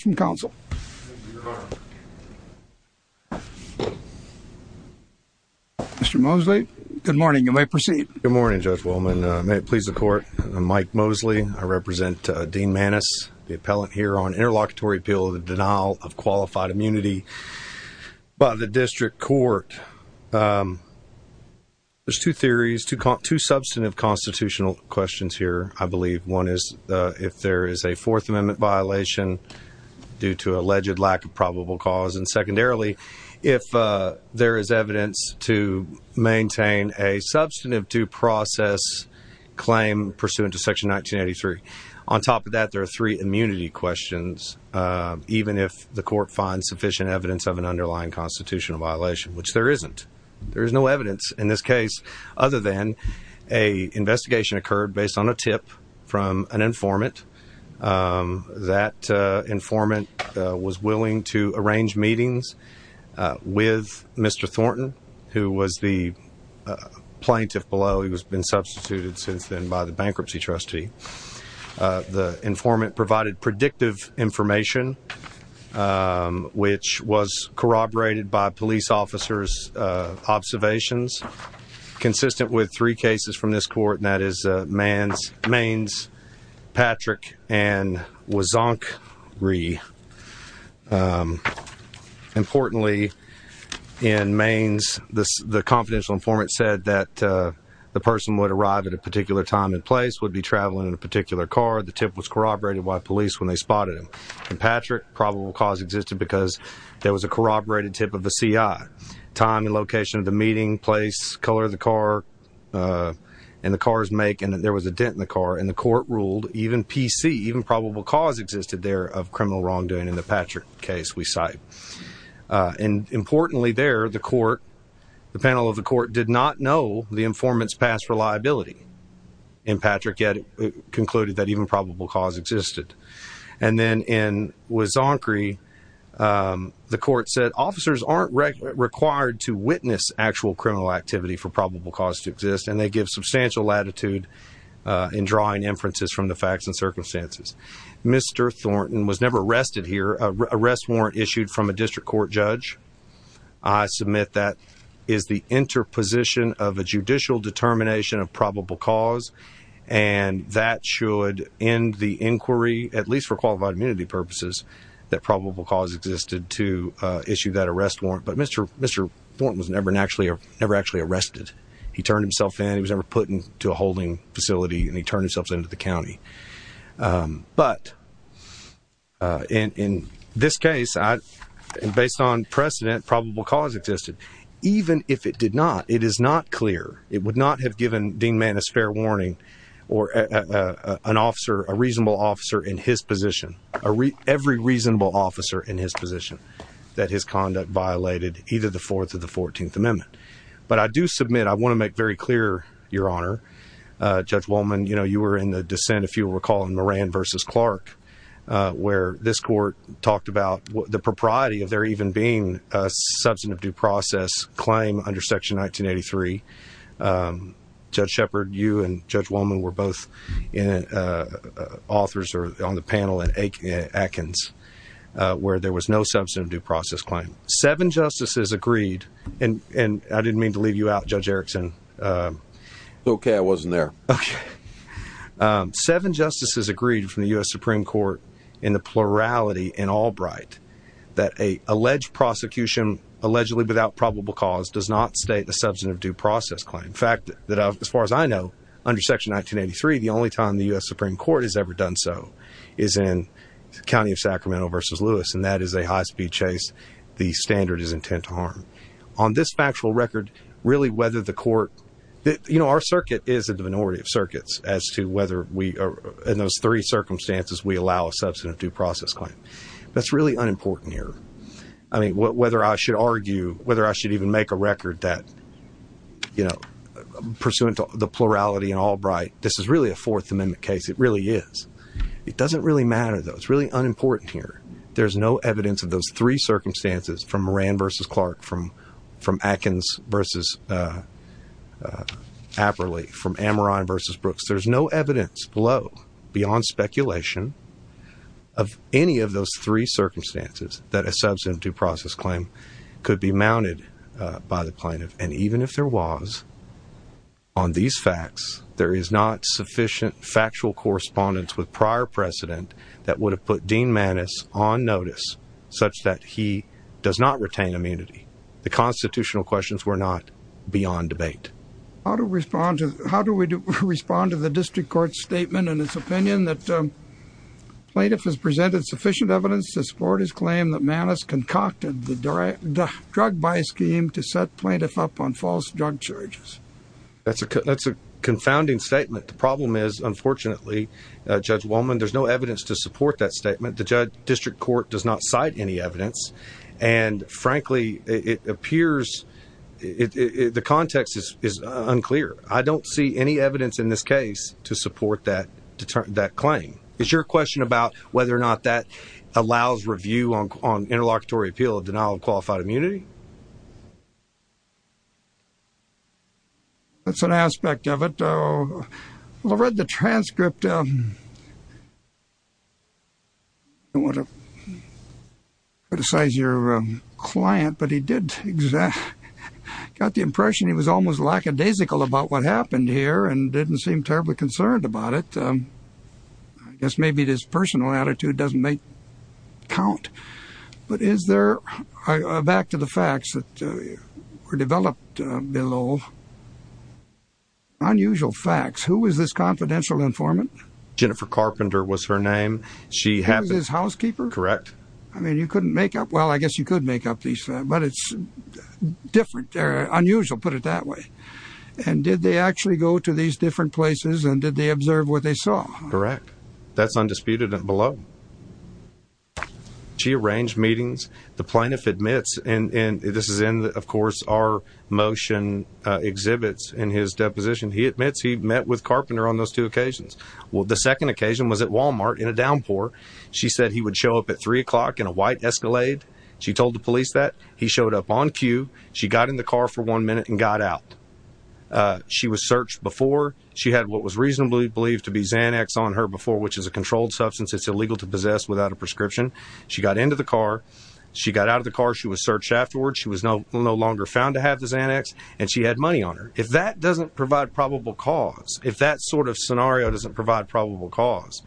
Mr. Mosley, good morning. You may proceed. Good morning, Judge Willman. May it please the court. I'm Mike Mosley. I represent Dean Mannis, the appellant here on interlocutory appeal of the denial of qualified immunity by the district court. There's two theories, two substantive constitutional questions here, I believe. One is if there is a Fourth Amendment violation due to alleged lack of probable cause, and secondarily, if there is evidence to maintain a substantive due process claim pursuant to Section 1983. On top of that, there are three immunity questions, even if the court finds sufficient evidence of an underlying constitutional violation, which there isn't. There is no evidence in this case. That informant was willing to arrange meetings with Mr. Thornton, who was the plaintiff below. He has been substituted since then by the bankruptcy trustee. The informant provided predictive information, which was corroborated by police officers' observations, consistent with three cases from this court, and that is Maines, Patrick, and Wazonk-Ree. Importantly, in Maines, the confidential informant said that the person would arrive at a particular time and place, would be traveling in a particular car, the tip was corroborated by police when they spotted him. In Patrick, probable cause existed because there was a corroborated tip of a CI, time and location of the meeting, place, color of the car, and the car's make, and there was a dent in the car, and the court ruled even P.C., even probable cause existed there of criminal wrongdoing in the Patrick case we cite. Importantly there, the panel of the court did not know the informant's past reliability in Patrick, yet it concluded that even probable cause existed. And then in Wazonk-Ree, the court said officers aren't required to witness actual criminal activity for probable cause to exist, and they give substantial latitude in drawing inferences from the facts and circumstances. Mr. Thornton was never arrested here. Arrest warrant issued from a district court judge, I submit that is the interposition of a judicial determination of probable cause, and that should end the inquiry, at least for qualified immunity purposes, that probable cause existed to issue that arrest warrant. But Mr. Thornton was never actually arrested. He turned himself in, he was never put into a holding facility, and he turned himself in to the county. But, in this case, based on precedent, probable cause existed. Even if it did not, it is not clear, it would not have given Dean Mann a spare warning, or an officer, a reasonable officer in his position, every reasonable officer in his position, that his conduct violated either the Fourth or the Fourteenth Amendment. But I do submit, I want to make very clear, Your Honor, Judge Wohlman, you were in the dissent, if you recall, in Moran v. Clark, where this court talked about the propriety of there even being a substantive due process claim under Section 1983. Judge Shepard, you and Judge Wohlman were both authors on the panel in Atkins, where there was no substantive due process claim. Seven justices agreed, and I didn't mean to leave you out, Judge Erickson. Okay, I wasn't there. Okay. Seven justices agreed from the U.S. Supreme Court, in the plurality in Albright, that an alleged prosecution, allegedly without probable cause, does not state a substantive due process claim. In fact, as far as I know, under Section 1983, the only time the U.S. Supreme Court has ever done so is in the county of Sacramento v. Lewis, and that is a high-speed chase the standard is intent to harm. On this factual record, really, whether the court Our circuit is a minority of circuits as to whether we are, in those three circumstances, we allow a substantive due process claim. That's really unimportant here. I mean, whether I should argue, whether I should even make a record that, you know, pursuant to the plurality in Albright, this is really a Fourth Amendment case. It really is. It doesn't really matter, though. It's really unimportant here. There's no evidence of those three circumstances from Averly, from Amaran v. Brooks. There's no evidence below, beyond speculation, of any of those three circumstances that a substantive due process claim could be mounted by the plaintiff. And even if there was, on these facts, there is not sufficient factual correspondence with prior precedent that would have put Dean Maness on notice such that he does not retain immunity. The constitutional questions were not beyond debate. How do we respond to the district court's statement and its opinion that plaintiff has presented sufficient evidence to support his claim that Maness concocted the drug buy scheme to set plaintiff up on false drug charges? That's a confounding statement. The problem is, unfortunately, Judge Wohlman, there's no evidence to support that statement. The district court does not cite any evidence. And frankly, it appears, the context is unclear. I don't see any evidence in this case to support that claim. Is your question about whether or not that allows review on interlocutory appeal of denial of qualified immunity? That's an aspect of it. I read the transcript. I don't want to criticize your client, but he did exactly, got the impression he was almost lackadaisical about what happened here and didn't seem terribly concerned about it. I guess maybe this personal attitude doesn't make count. But is there, back to the facts that were developed below, unusual facts. Who was this confidential informant? Jennifer Carpenter was her name. She was his housekeeper. Correct. I mean, you couldn't make up, well, I guess you could make up these facts, but it's different, unusual, put it that way. And did they actually go to these different places and did they observe what they saw? Correct. That's undisputed and below. She arranged meetings. The plaintiff admits, and this is in, of course, our motion exhibits in his deposition. He admits he met with Carpenter on those two occasions. Well, the second occasion was at Walmart in a downpour. She said he would show up at three o'clock in a white Escalade. She told the police that. He showed up on cue. She got in the car for one minute and got out. She was searched before. She had what was reasonably believed to be Xanax on her before, which is a controlled substance. It's illegal to possess without a prescription. She got into the car. She got out of the car. She was searched afterwards. She was no longer found to have the Xanax and she had money on her. If that doesn't provide probable cause, if that sort of scenario doesn't provide probable cause,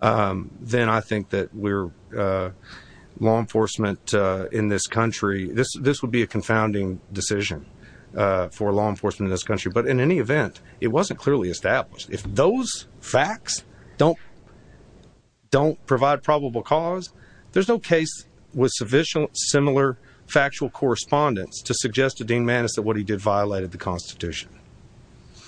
then I think that we're law enforcement in this country. This would be a confounding decision for law enforcement in this country. But in any event, it wasn't clearly established. If those facts don't, don't provide probable cause, there's no case with sufficient similar factual correspondence to suggest to Dean Maness that what he did violated the Constitution.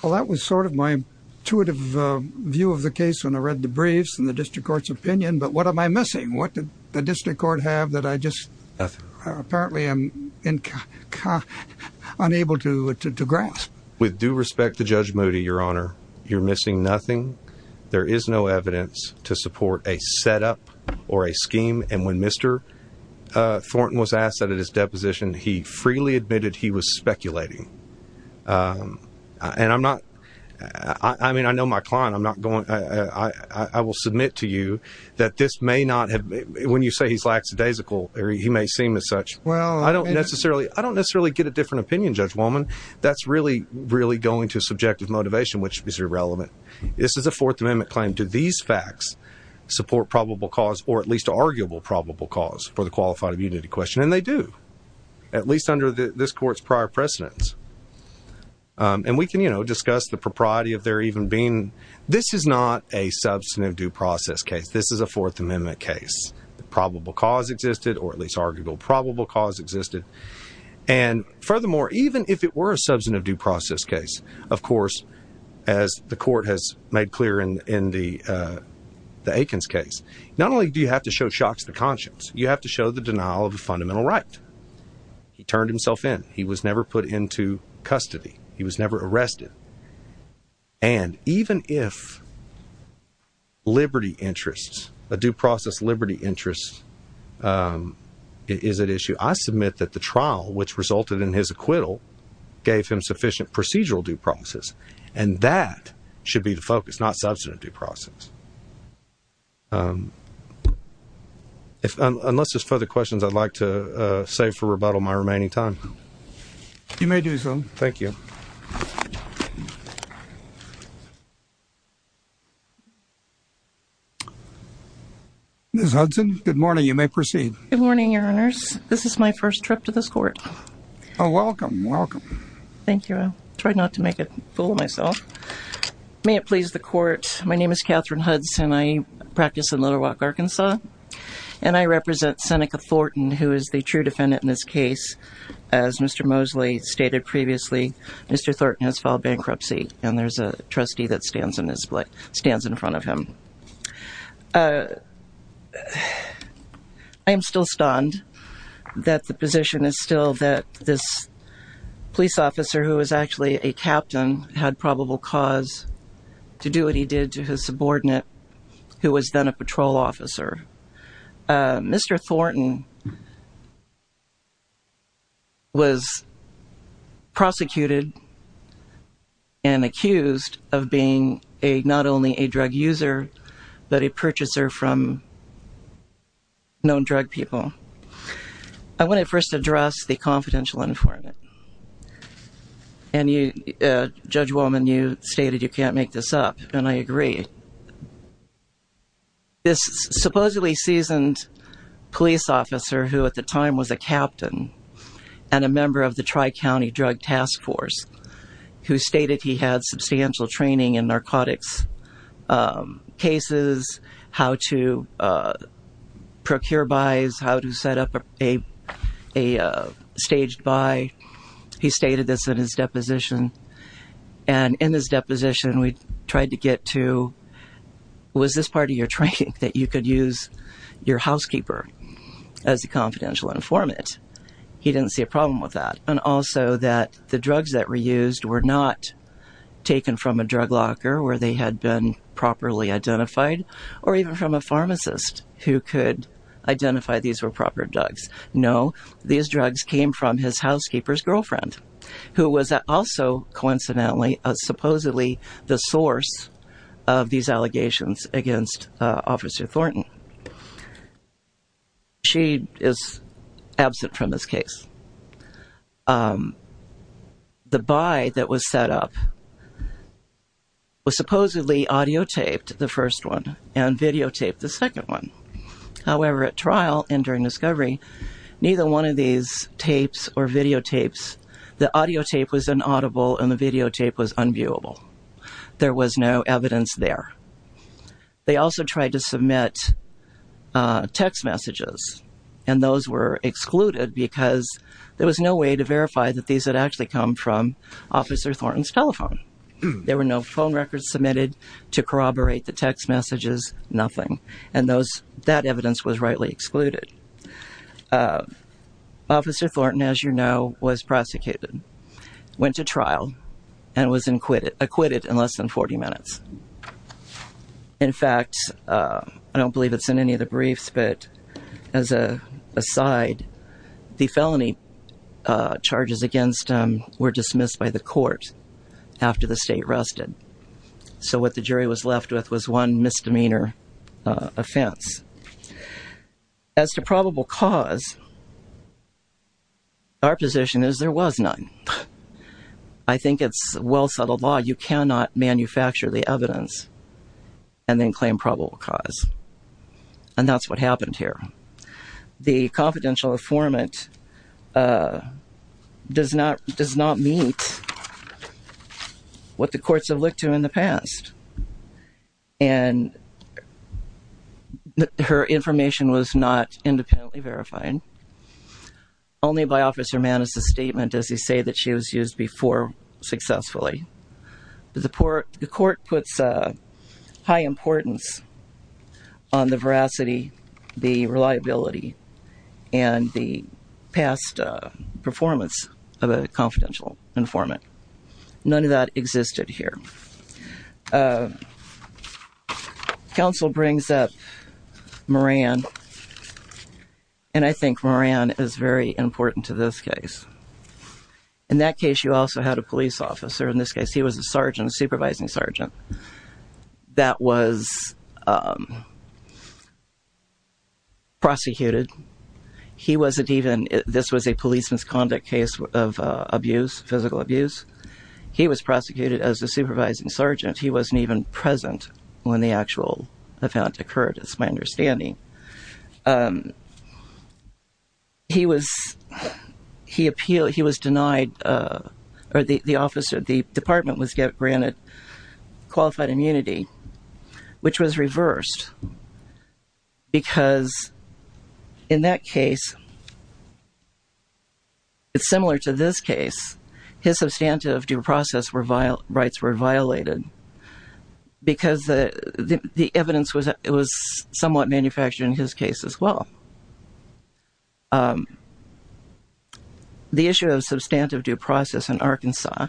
Well, that was sort of my intuitive view of the case when I read the briefs and the district court's opinion. But what am I missing? What did the Moody, your honor? You're missing nothing. There is no evidence to support a setup or a scheme. And when Mr. Thornton was asked that at his deposition, he freely admitted he was speculating. And I'm not, I mean, I know my client, I'm not going, I will submit to you that this may not have when you say he's lackadaisical or he may seem as such. Well, I don't necessarily, I don't go into subjective motivation, which is irrelevant. This is a fourth amendment claim. Do these facts support probable cause or at least arguable probable cause for the qualified immunity question? And they do at least under this court's prior precedence. And we can, you know, discuss the propriety of there even being, this is not a substantive due process case. This is a fourth amendment case. The probable cause existed or at least arguable probable cause existed. And furthermore, even if it were a substantive due process case, of course, as the court has made clear in, in the, uh, the Aikens case, not only do you have to show shocks to the conscience, you have to show the denial of a fundamental right. He turned himself in. He was never put into custody. He was never arrested. And even if liberty interests, a due process, liberty interests, um, is an issue, I submit that the trial, which resulted in his acquittal gave him sufficient procedural due process. And that should be the focus, not substantive due process. Um, unless there's further questions, I'd like to, uh, save for rebuttal my remaining time. You may do so. Thank you. Okay. Ms. Hudson, good morning. You may proceed. Good morning, your honors. This is my first trip to this court. Oh, welcome. Welcome. Thank you. I tried not to make a fool of myself. May it please the court. My name is Catherine Hudson. I practice in Little Rock, Arkansas, and I represent Seneca Thornton, who is the true defendant in this case. As Mr. Mosley stated previously, Mr. Thornton has filed bankruptcy, and there's a trustee that stands in his place, stands in front of him. Uh, I am still stunned that the position is still that this police officer who was actually a captain had probable cause to do what he did to his subordinate, who was then a patrol officer. Uh, Mr. Thornton was prosecuted and accused of being a, not only a drug user, but a purchaser from known drug people. I want to first address the confidential informant. And you, uh, Judge Wollman, you stated you can't make this up, and I agree. This supposedly seasoned police officer who at the time was a captain and a member of the Tri-County Drug Task Force, who stated he had substantial training in narcotics, um, cases, how to, uh, procure buys, how to set up a, a, uh, staged buy. He stated this in his deposition. And in his deposition, we tried to get to, was this part of your training that you could use your housekeeper as a confidential informant? He didn't see a problem with that. And also that the drugs that were used were not taken from a drug locker where they had been properly identified, or even from a pharmacist who could identify these were proper drugs. No, these drugs came from his housekeeper's girlfriend, who was also coincidentally, uh, supposedly the source of these allegations against, uh, Officer Thornton. She is absent from this case. Um, the buy that was set up was supposedly audiotaped the first one and videotaped the or videotapes. The audiotape was an audible and the videotape was unviewable. There was no evidence there. They also tried to submit, uh, text messages and those were excluded because there was no way to verify that these had actually come from Officer Thornton's telephone. There were no phone records submitted to corroborate the text messages, nothing. And that evidence was rightly excluded. Uh, Officer Thornton, as you know, was prosecuted, went to trial and was acquitted in less than 40 minutes. In fact, uh, I don't believe it's in any of the briefs, but as a side, the felony, uh, charges against him were dismissed by the court after the state rested. So what the jury was left with was one misdemeanor, uh, offense. As to probable cause, our position is there was none. I think it's well settled law. You cannot manufacture the evidence and then claim probable cause. And that's what happened here. The confidential informant, uh, does not, does not meet what the courts have looked to in the past. And her information was not independently verified only by Officer Mannes' statement, as you say, that she was used before successfully. The court puts a high importance on the veracity, the reliability, and the past performance of a confidential informant. None of that existed here. Uh, counsel brings up Moran. And I think Moran is very important to this case. In that case, you also had a police officer. In this case, he was a sergeant, a supervising sergeant that was, um, prosecuted. He wasn't even, this was a police misconduct case of, uh, abuse, physical abuse. He was prosecuted as a supervising sergeant. He wasn't even present when the actual event occurred. It's my understanding. Um, he was, he appealed, he was denied, uh, or the, the officer, the department was granted qualified immunity, which was reversed because in that case, it's similar to this case, his substantive due process were, rights were violated because the, the, the evidence was, it was somewhat manufactured in his case as well. Um, the issue of substantive due process in Arkansas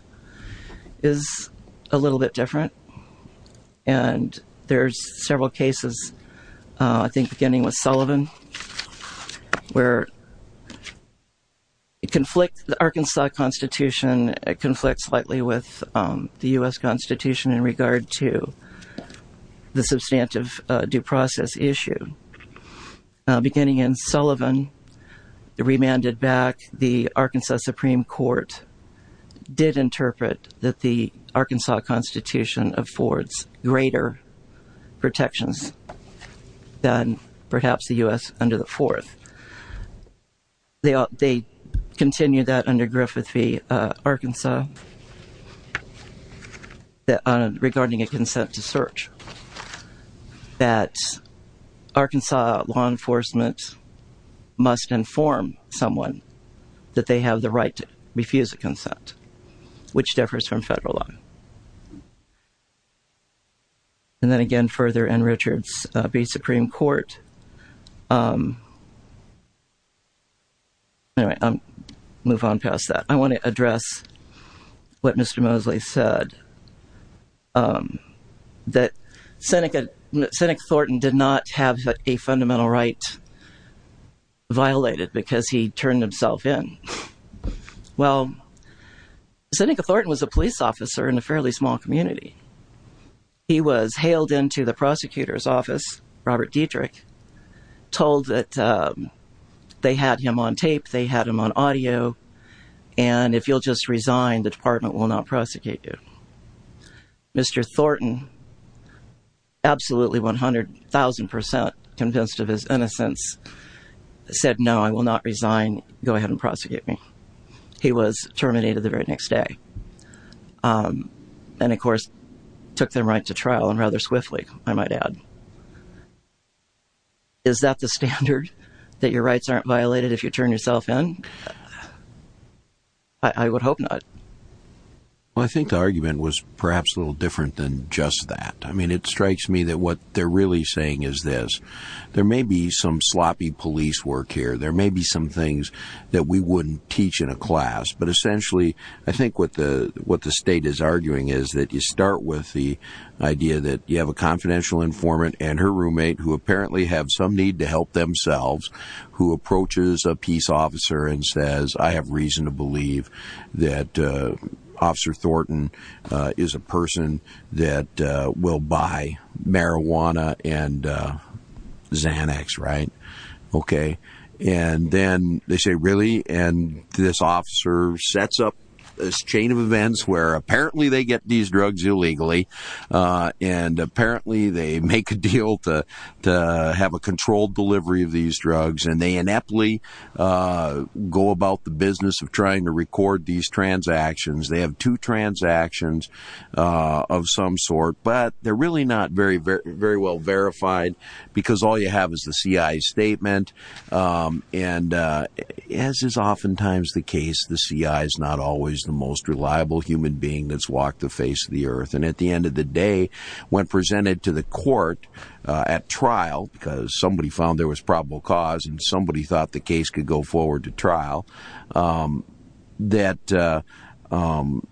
is a little bit different. And there's several cases, uh, I think beginning with Sullivan, where it conflict, the Arkansas constitution, it conflicts slightly with, um, the U S constitution in regard to the substantive due process issue. Uh, beginning in Sullivan, the remanded back, the Arkansas Supreme court did interpret that the Arkansas constitution affords greater protections than perhaps the U S under the fourth. They, they continue that under Griffith v, uh, Arkansas that, uh, regarding a consent to search that Arkansas law enforcement must inform someone that they have the right to refuse a consent, which differs from federal law. Um, and then again, further and Richards, uh, be Supreme court. Um, anyway, um, move on past that. I want to address what Mr. Mosley said, um, that Seneca, Seneca Thornton did not have a fundamental right violated because he turned himself in. Well, Seneca Thornton was a police officer in the small community. He was hailed into the prosecutor's office. Robert Dietrich told that, um, they had him on tape. They had him on audio. And if you'll just resign, the department will not prosecute you. Mr. Thornton, absolutely 100,000% convinced of his innocence said, no, I will not resign. Go ahead and prosecute me. He was terminated the very next day. Um, and of course took them right to trial and rather swiftly, I might add, is that the standard that your rights aren't violated? If you turn yourself in, I would hope not. Well, I think the argument was perhaps a little different than just that. I mean, it strikes me that what they're really saying is this, there may be some sloppy police work here. There may be some things that we wouldn't teach in a class, but essentially I think what the, what the state is arguing is that you start with the idea that you have a confidential informant and her roommate who apparently have some need to help themselves, who approaches a peace officer and says, I have reason to believe that, uh, officer Thornton, uh, is a person that, uh, will buy marijuana and, uh, Xanax, right? Okay. And then they say, really? And this officer sets up this chain of events where apparently they get these drugs illegally. Uh, and apparently they make a deal to, to have a controlled delivery of these drugs. And they ineptly, uh, go about the business of trying to record these transactions. They have two transactions, uh, of some sort, but they're um, and, uh, as is oftentimes the case, the CI is not always the most reliable human being that's walked the face of the earth. And at the end of the day, when presented to the court, uh, at trial, because somebody found there was probable cause and somebody thought the case could go forward to trial, um, that, uh, um,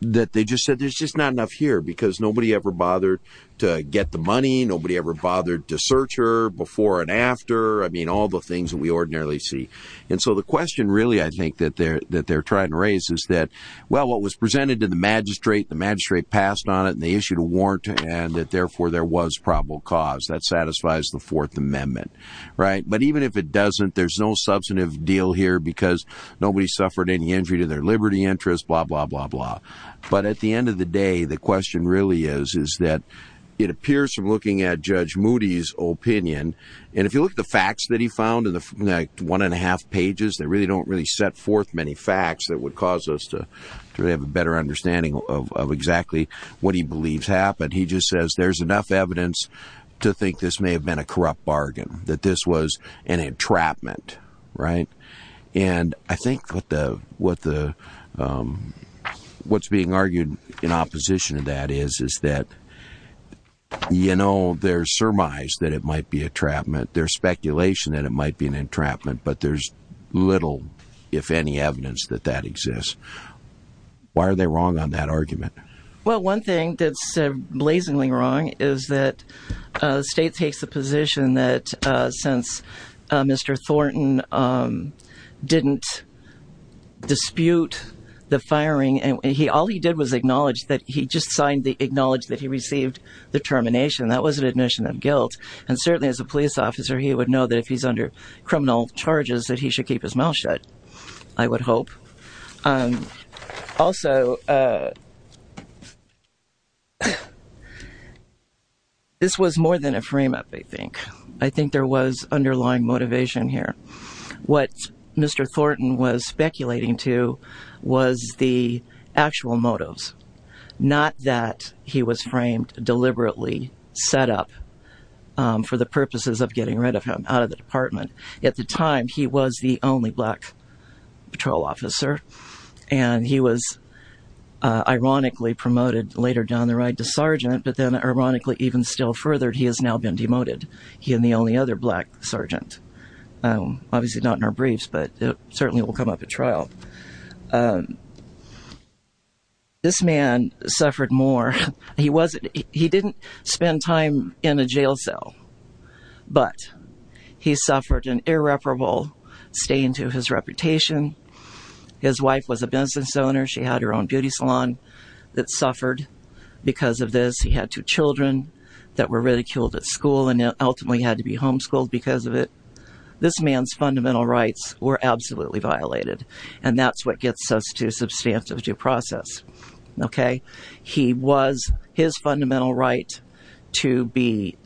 that they just said, there's just not enough here because nobody ever bothered to get the money. Nobody ever bothered to search her before and after. I mean, all the things that we ordinarily see. And so the question really, I think that they're, that they're trying to raise is that, well, what was presented to the magistrate, the magistrate passed on it and they issued a warrant and that therefore there was probable cause that satisfies the fourth amendment. Right. But even if it doesn't, there's no substantive deal here because nobody suffered any injury to their Liberty interest, blah, blah, blah, blah. But at the end of the day, the question really is, is that it appears from looking at judge opinion. And if you look at the facts that he found in the one and a half pages, they really don't really set forth many facts that would cause us to really have a better understanding of exactly what he believes happened. He just says, there's enough evidence to think this may have been a corrupt bargain, that this was an entrapment. Right. And I think what the, what the, that is, is that, you know, there's surmise that it might be a trapment. There's speculation that it might be an entrapment, but there's little, if any evidence that that exists. Why are they wrong on that argument? Well, one thing that's blazingly wrong is that a state takes the position that, uh, since, uh, Mr. Thornton, um, didn't dispute the firing and he, all he did was acknowledge that he just signed the acknowledge that he received the termination. That was an admission of guilt. And certainly as a police officer, he would know that if he's under criminal charges that he should keep his mouth shut. I would hope. Um, also, uh, this was more than a frame up. I think, I think there was underlying motivation here. What Mr. Thornton was speculating to was the actual motives, not that he was framed deliberately set up, um, for the purposes of getting rid of him out of the department. At the time, he was the only black patrol officer and he was, uh, ironically promoted later down the right to sergeant, but then ironically, even still furthered, he has now been demoted. He and the only other black sergeant, um, obviously not in our briefs, but it certainly will come up at trial. Um, this man suffered more. He wasn't, he didn't spend time in a jail cell, but he suffered an irreparable stain to his reputation. His wife was a business owner. She had her own beauty salon that suffered because of this. He had two children that were ridiculed at school and ultimately had to be homeschooled because of it. This man's fundamental rights were absolutely violated. And that's what gets us to substantive due process. Okay. He was his fundamental right to be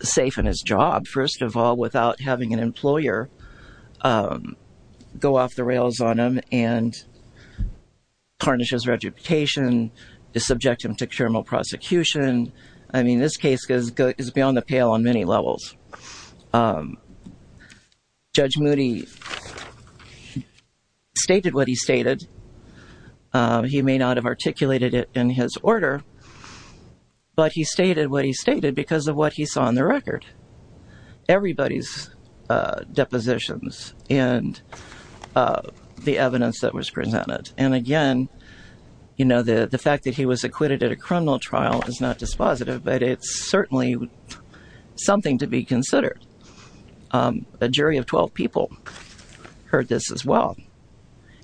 safe in his job. First of all, without having an employer, um, go off the rails on him and tarnish his reputation, subject him to criminal prosecution. I mean, this case goes beyond the pale on many levels. Um, Judge Moody stated what he stated. Um, he may not have articulated it in his order, but he stated what he stated because of what he saw on the record. Everybody's, uh, depositions and, uh, the evidence that was presented. And again, you know, the fact that he was acquitted at a criminal trial is not dispositive, but it's certainly something to be considered. Um, a jury of 12 people heard this as well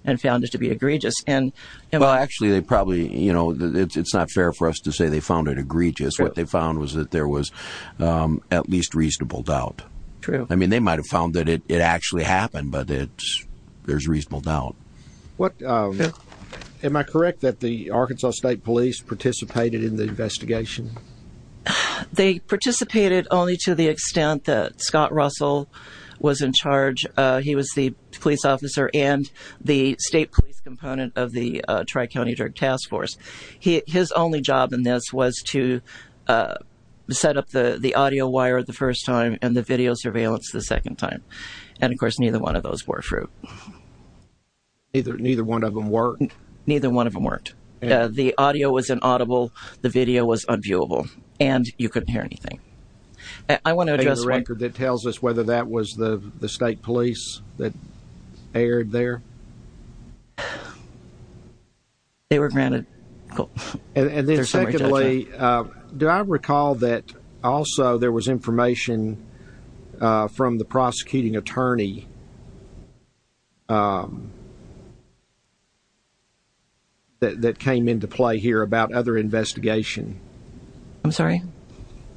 and found it to be egregious. And well, actually they probably, you know, it's not fair for us to say they found it egregious. What they found was that there was, um, at least reasonable doubt. I mean, they might've found that it actually happened, but it's, there's reasonable doubt. What, um, am I correct that the Arkansas State Police participated in the investigation? They participated only to the extent that Scott Russell was in charge. Uh, he was the police officer and the state police component of the, uh, Tri-County Drug Task Force. He, his only job in this was to, uh, set up the audio wire the second time. And of course, neither one of those were true. Neither, neither one of them worked? Neither one of them worked. Uh, the audio was inaudible, the video was unviewable, and you couldn't hear anything. I want to address one- Do you have a record that tells us whether that was the, the state police that aired there? They were granted. Cool. And then secondly, uh, do I recall that also there was information, uh, from the prosecuting attorney, um, that, that came into play here about other investigation? I'm sorry?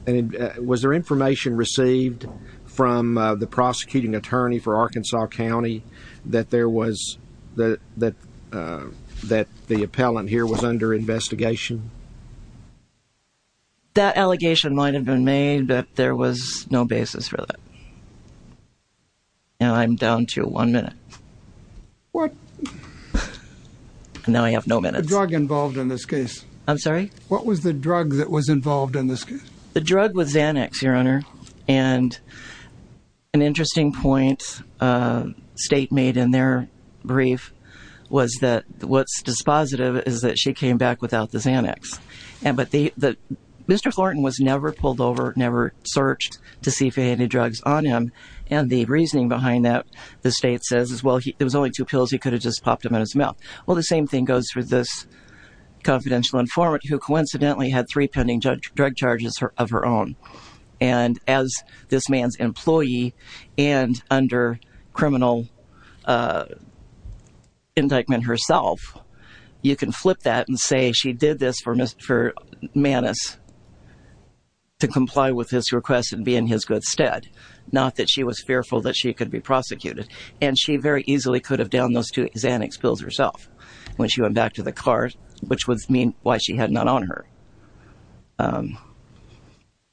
And was there information received from, uh, the prosecuting attorney for Arkansas County that there was, that, that, uh, that the appellant here was under investigation? That allegation might have been made, but there was no basis for that. Now I'm down to one minute. What? And now I have no minutes. The drug involved in this case. I'm sorry? What was the drug that was involved in this case? The drug was Xanax, Your Honor. And an interesting point, uh, state made in their brief was that what's dispositive is that she came back without the Xanax. And, but the, the, Mr. Thornton was never pulled over, never searched to see if he had any drugs on him. And the reasoning behind that, the state says is, well, he, there was only two pills. He could have just popped them in his mouth. Well, the same thing goes for this confidential informant who coincidentally had three pending judge drug charges of her own. And as this man's employee and under criminal, uh, indictment herself, you can flip that and say, she did this for Mr. Maness to comply with his request and be in his good stead. Not that she was fearful that she could be prosecuted. And she very easily could have downed those two Xanax pills herself when she went back to the car, which would mean why she had none on her. Um,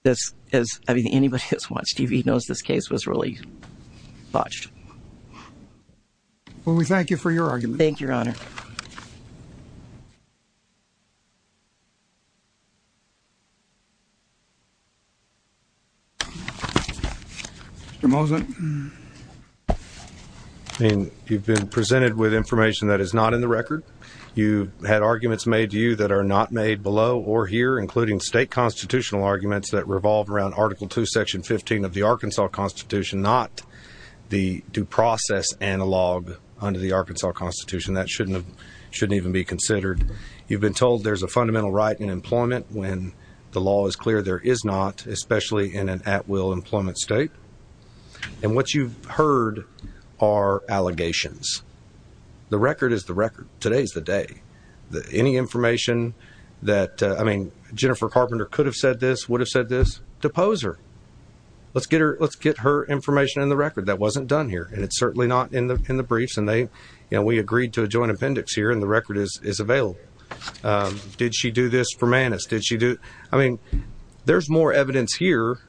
this is, I mean, anybody who's watched TV knows this case was really botched. Well, we thank you for your argument. Thank you, Your Honor. Mr. Mosen. I mean, you've been presented with information that is not in the record. You had arguments made to you that are not made below or here, including state constitutional arguments that revolve around article two, section 15 of the Arkansas constitution, not the due process analog under the Arkansas constitution that shouldn't have, shouldn't even be considered. You've been told there's a fundamental right in employment when the law is clear, there is not, especially in at will employment state. And what you've heard are allegations. The record is the record. Today's the day that any information that, uh, I mean, Jennifer Carpenter could have said this, would have said this to pose her, let's get her, let's get her information in the record that wasn't done here. And it's certainly not in the, in the briefs and they, you know, we agreed to a joint appendix here and the record is, is available. Um, did she do this for Maness? Did she do, I mean, there's more evidence here.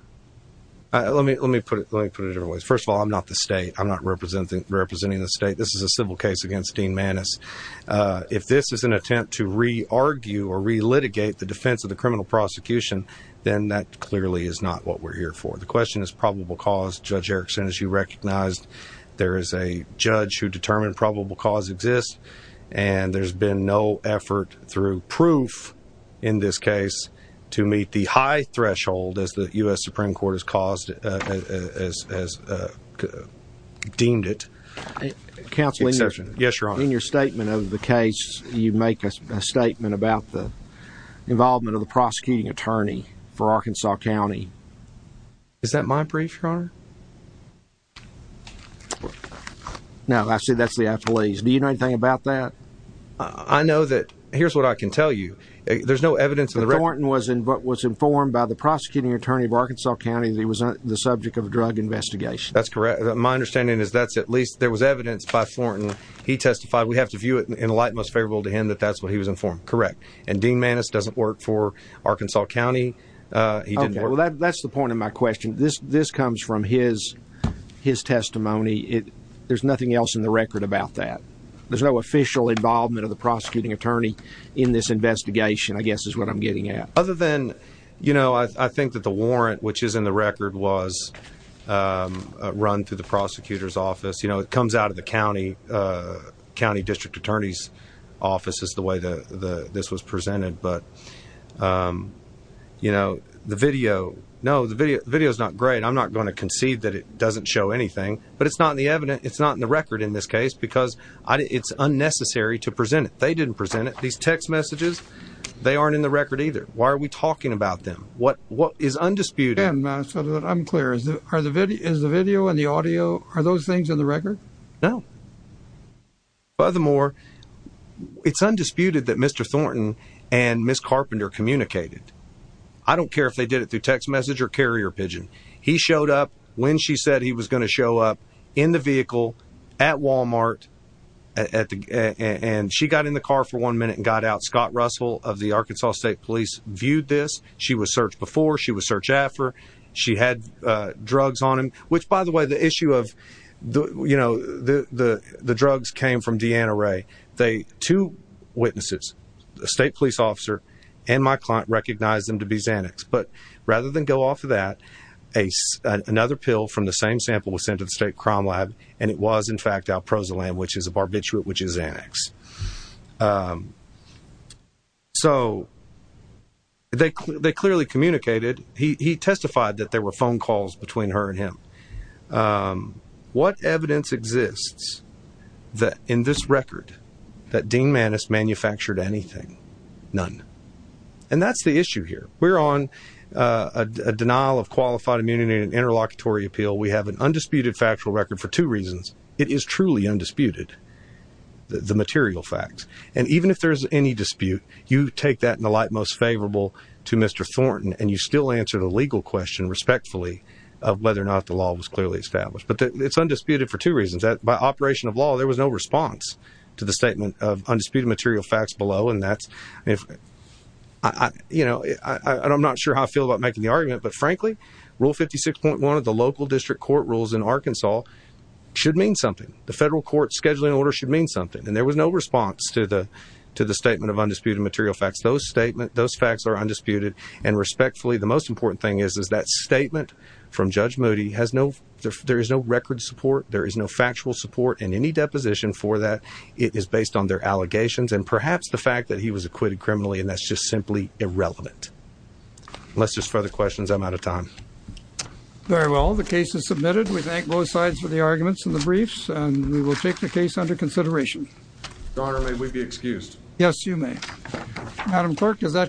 Uh, let me, let me put it, let me put it in different ways. First of all, I'm not the state, I'm not representing, representing the state. This is a civil case against Dean Maness. Uh, if this is an attempt to re argue or re litigate the defense of the criminal prosecution, then that clearly is not what we're here for. The question is probable cause judge Erickson, as you recognized, there is a judge who determined probable cause exists and there's been no effort through proof in this case to meet the high threshold as the U.S. Supreme Court has caused, uh, as, as, uh, deemed it counseling session. Yes, your honor. In your statement of the case, you make a statement about the involvement of the prosecuting attorney for Arkansas County. Is that my brief your honor? Okay. Now I see that's the athletes. Do you know anything about that? I know that, here's what I can tell you. There's no evidence in the rec. Thornton was in, was informed by the prosecuting attorney of Arkansas County that he was on the subject of a drug investigation. That's correct. My understanding is that's at least there was evidence by Thornton. He testified. We have to view it in a light most favorable to him that that's what he was informed. Correct. And Dean Maness doesn't work for Arkansas County. Uh, that's the point of my question. This, this comes from his, his testimony. It, there's nothing else in the record about that. There's no official involvement of the prosecuting attorney in this investigation, I guess is what I'm getting at. Other than, you know, I, I think that the warrant, which is in the record was, um, run through the prosecutor's office. You know, it comes out of the County, uh, County district attorney's office is the way the, this was presented, but, um, you know, the video, no, the video, the video is not great. I'm not going to concede that it doesn't show anything, but it's not in the evidence. It's not in the record in this case because it's unnecessary to present it. They didn't present it. These text messages, they aren't in the record either. Why are we talking about them? What, what is undisputed? I'm clear. Is it, are the video, is the video and the audio, are those things in the record? No. Furthermore, it's undisputed that Mr. Thornton and Ms. Carpenter communicated. I don't care if they did it through text message or carrier pigeon. He showed up when she said he was going to show up in the vehicle at Walmart at the, and she got in the car for one minute and got out. Scott Russell of the Arkansas state police viewed this. She was searched before she was searched after she had, uh, drugs on him, which by the way, the issue of the, you know, the, the, the drugs came from Deanna Ray. They, two witnesses, the state police officer and my client recognized them to be Xanax. But rather than go off of that, a, uh, another pill from the same sample was sent to the state crime lab. And it was in fact Alproza land, which is a barbiturate, which is Xanax. Um, so they, they clearly communicated. He testified that there were phone calls between her and him. Um, what evidence exists that in this record that Dean Maness manufactured anything, none. And that's the issue here. We're on, uh, a denial of qualified immunity and interlocutory appeal. We have an undisputed factual record for two reasons. It is truly undisputed the material facts. And even if there's any dispute, you take that in the light, to Mr. Thornton. And you still answer the legal question respectfully of whether or not the law was clearly established, but it's undisputed for two reasons that by operation of law, there was no response to the statement of undisputed material facts below. And that's, if I, you know, I, I don't, I'm not sure how I feel about making the argument, but frankly, rule 56.1 of the local district court rules in Arkansas should mean something. The federal court scheduling order should mean something. And there was no response to the, to the statement of those facts are undisputed. And respectfully, the most important thing is, is that statement from judge Moody has no, there is no record support. There is no factual support in any deposition for that. It is based on their allegations and perhaps the fact that he was acquitted criminally. And that's just simply irrelevant. Let's just further questions. I'm out of time. Very well. The case is submitted. We thank both sides for the arguments and the briefs, and we will take the case under consideration. Your Honor, may we be excused? Yes, you may. Madam clerk, is that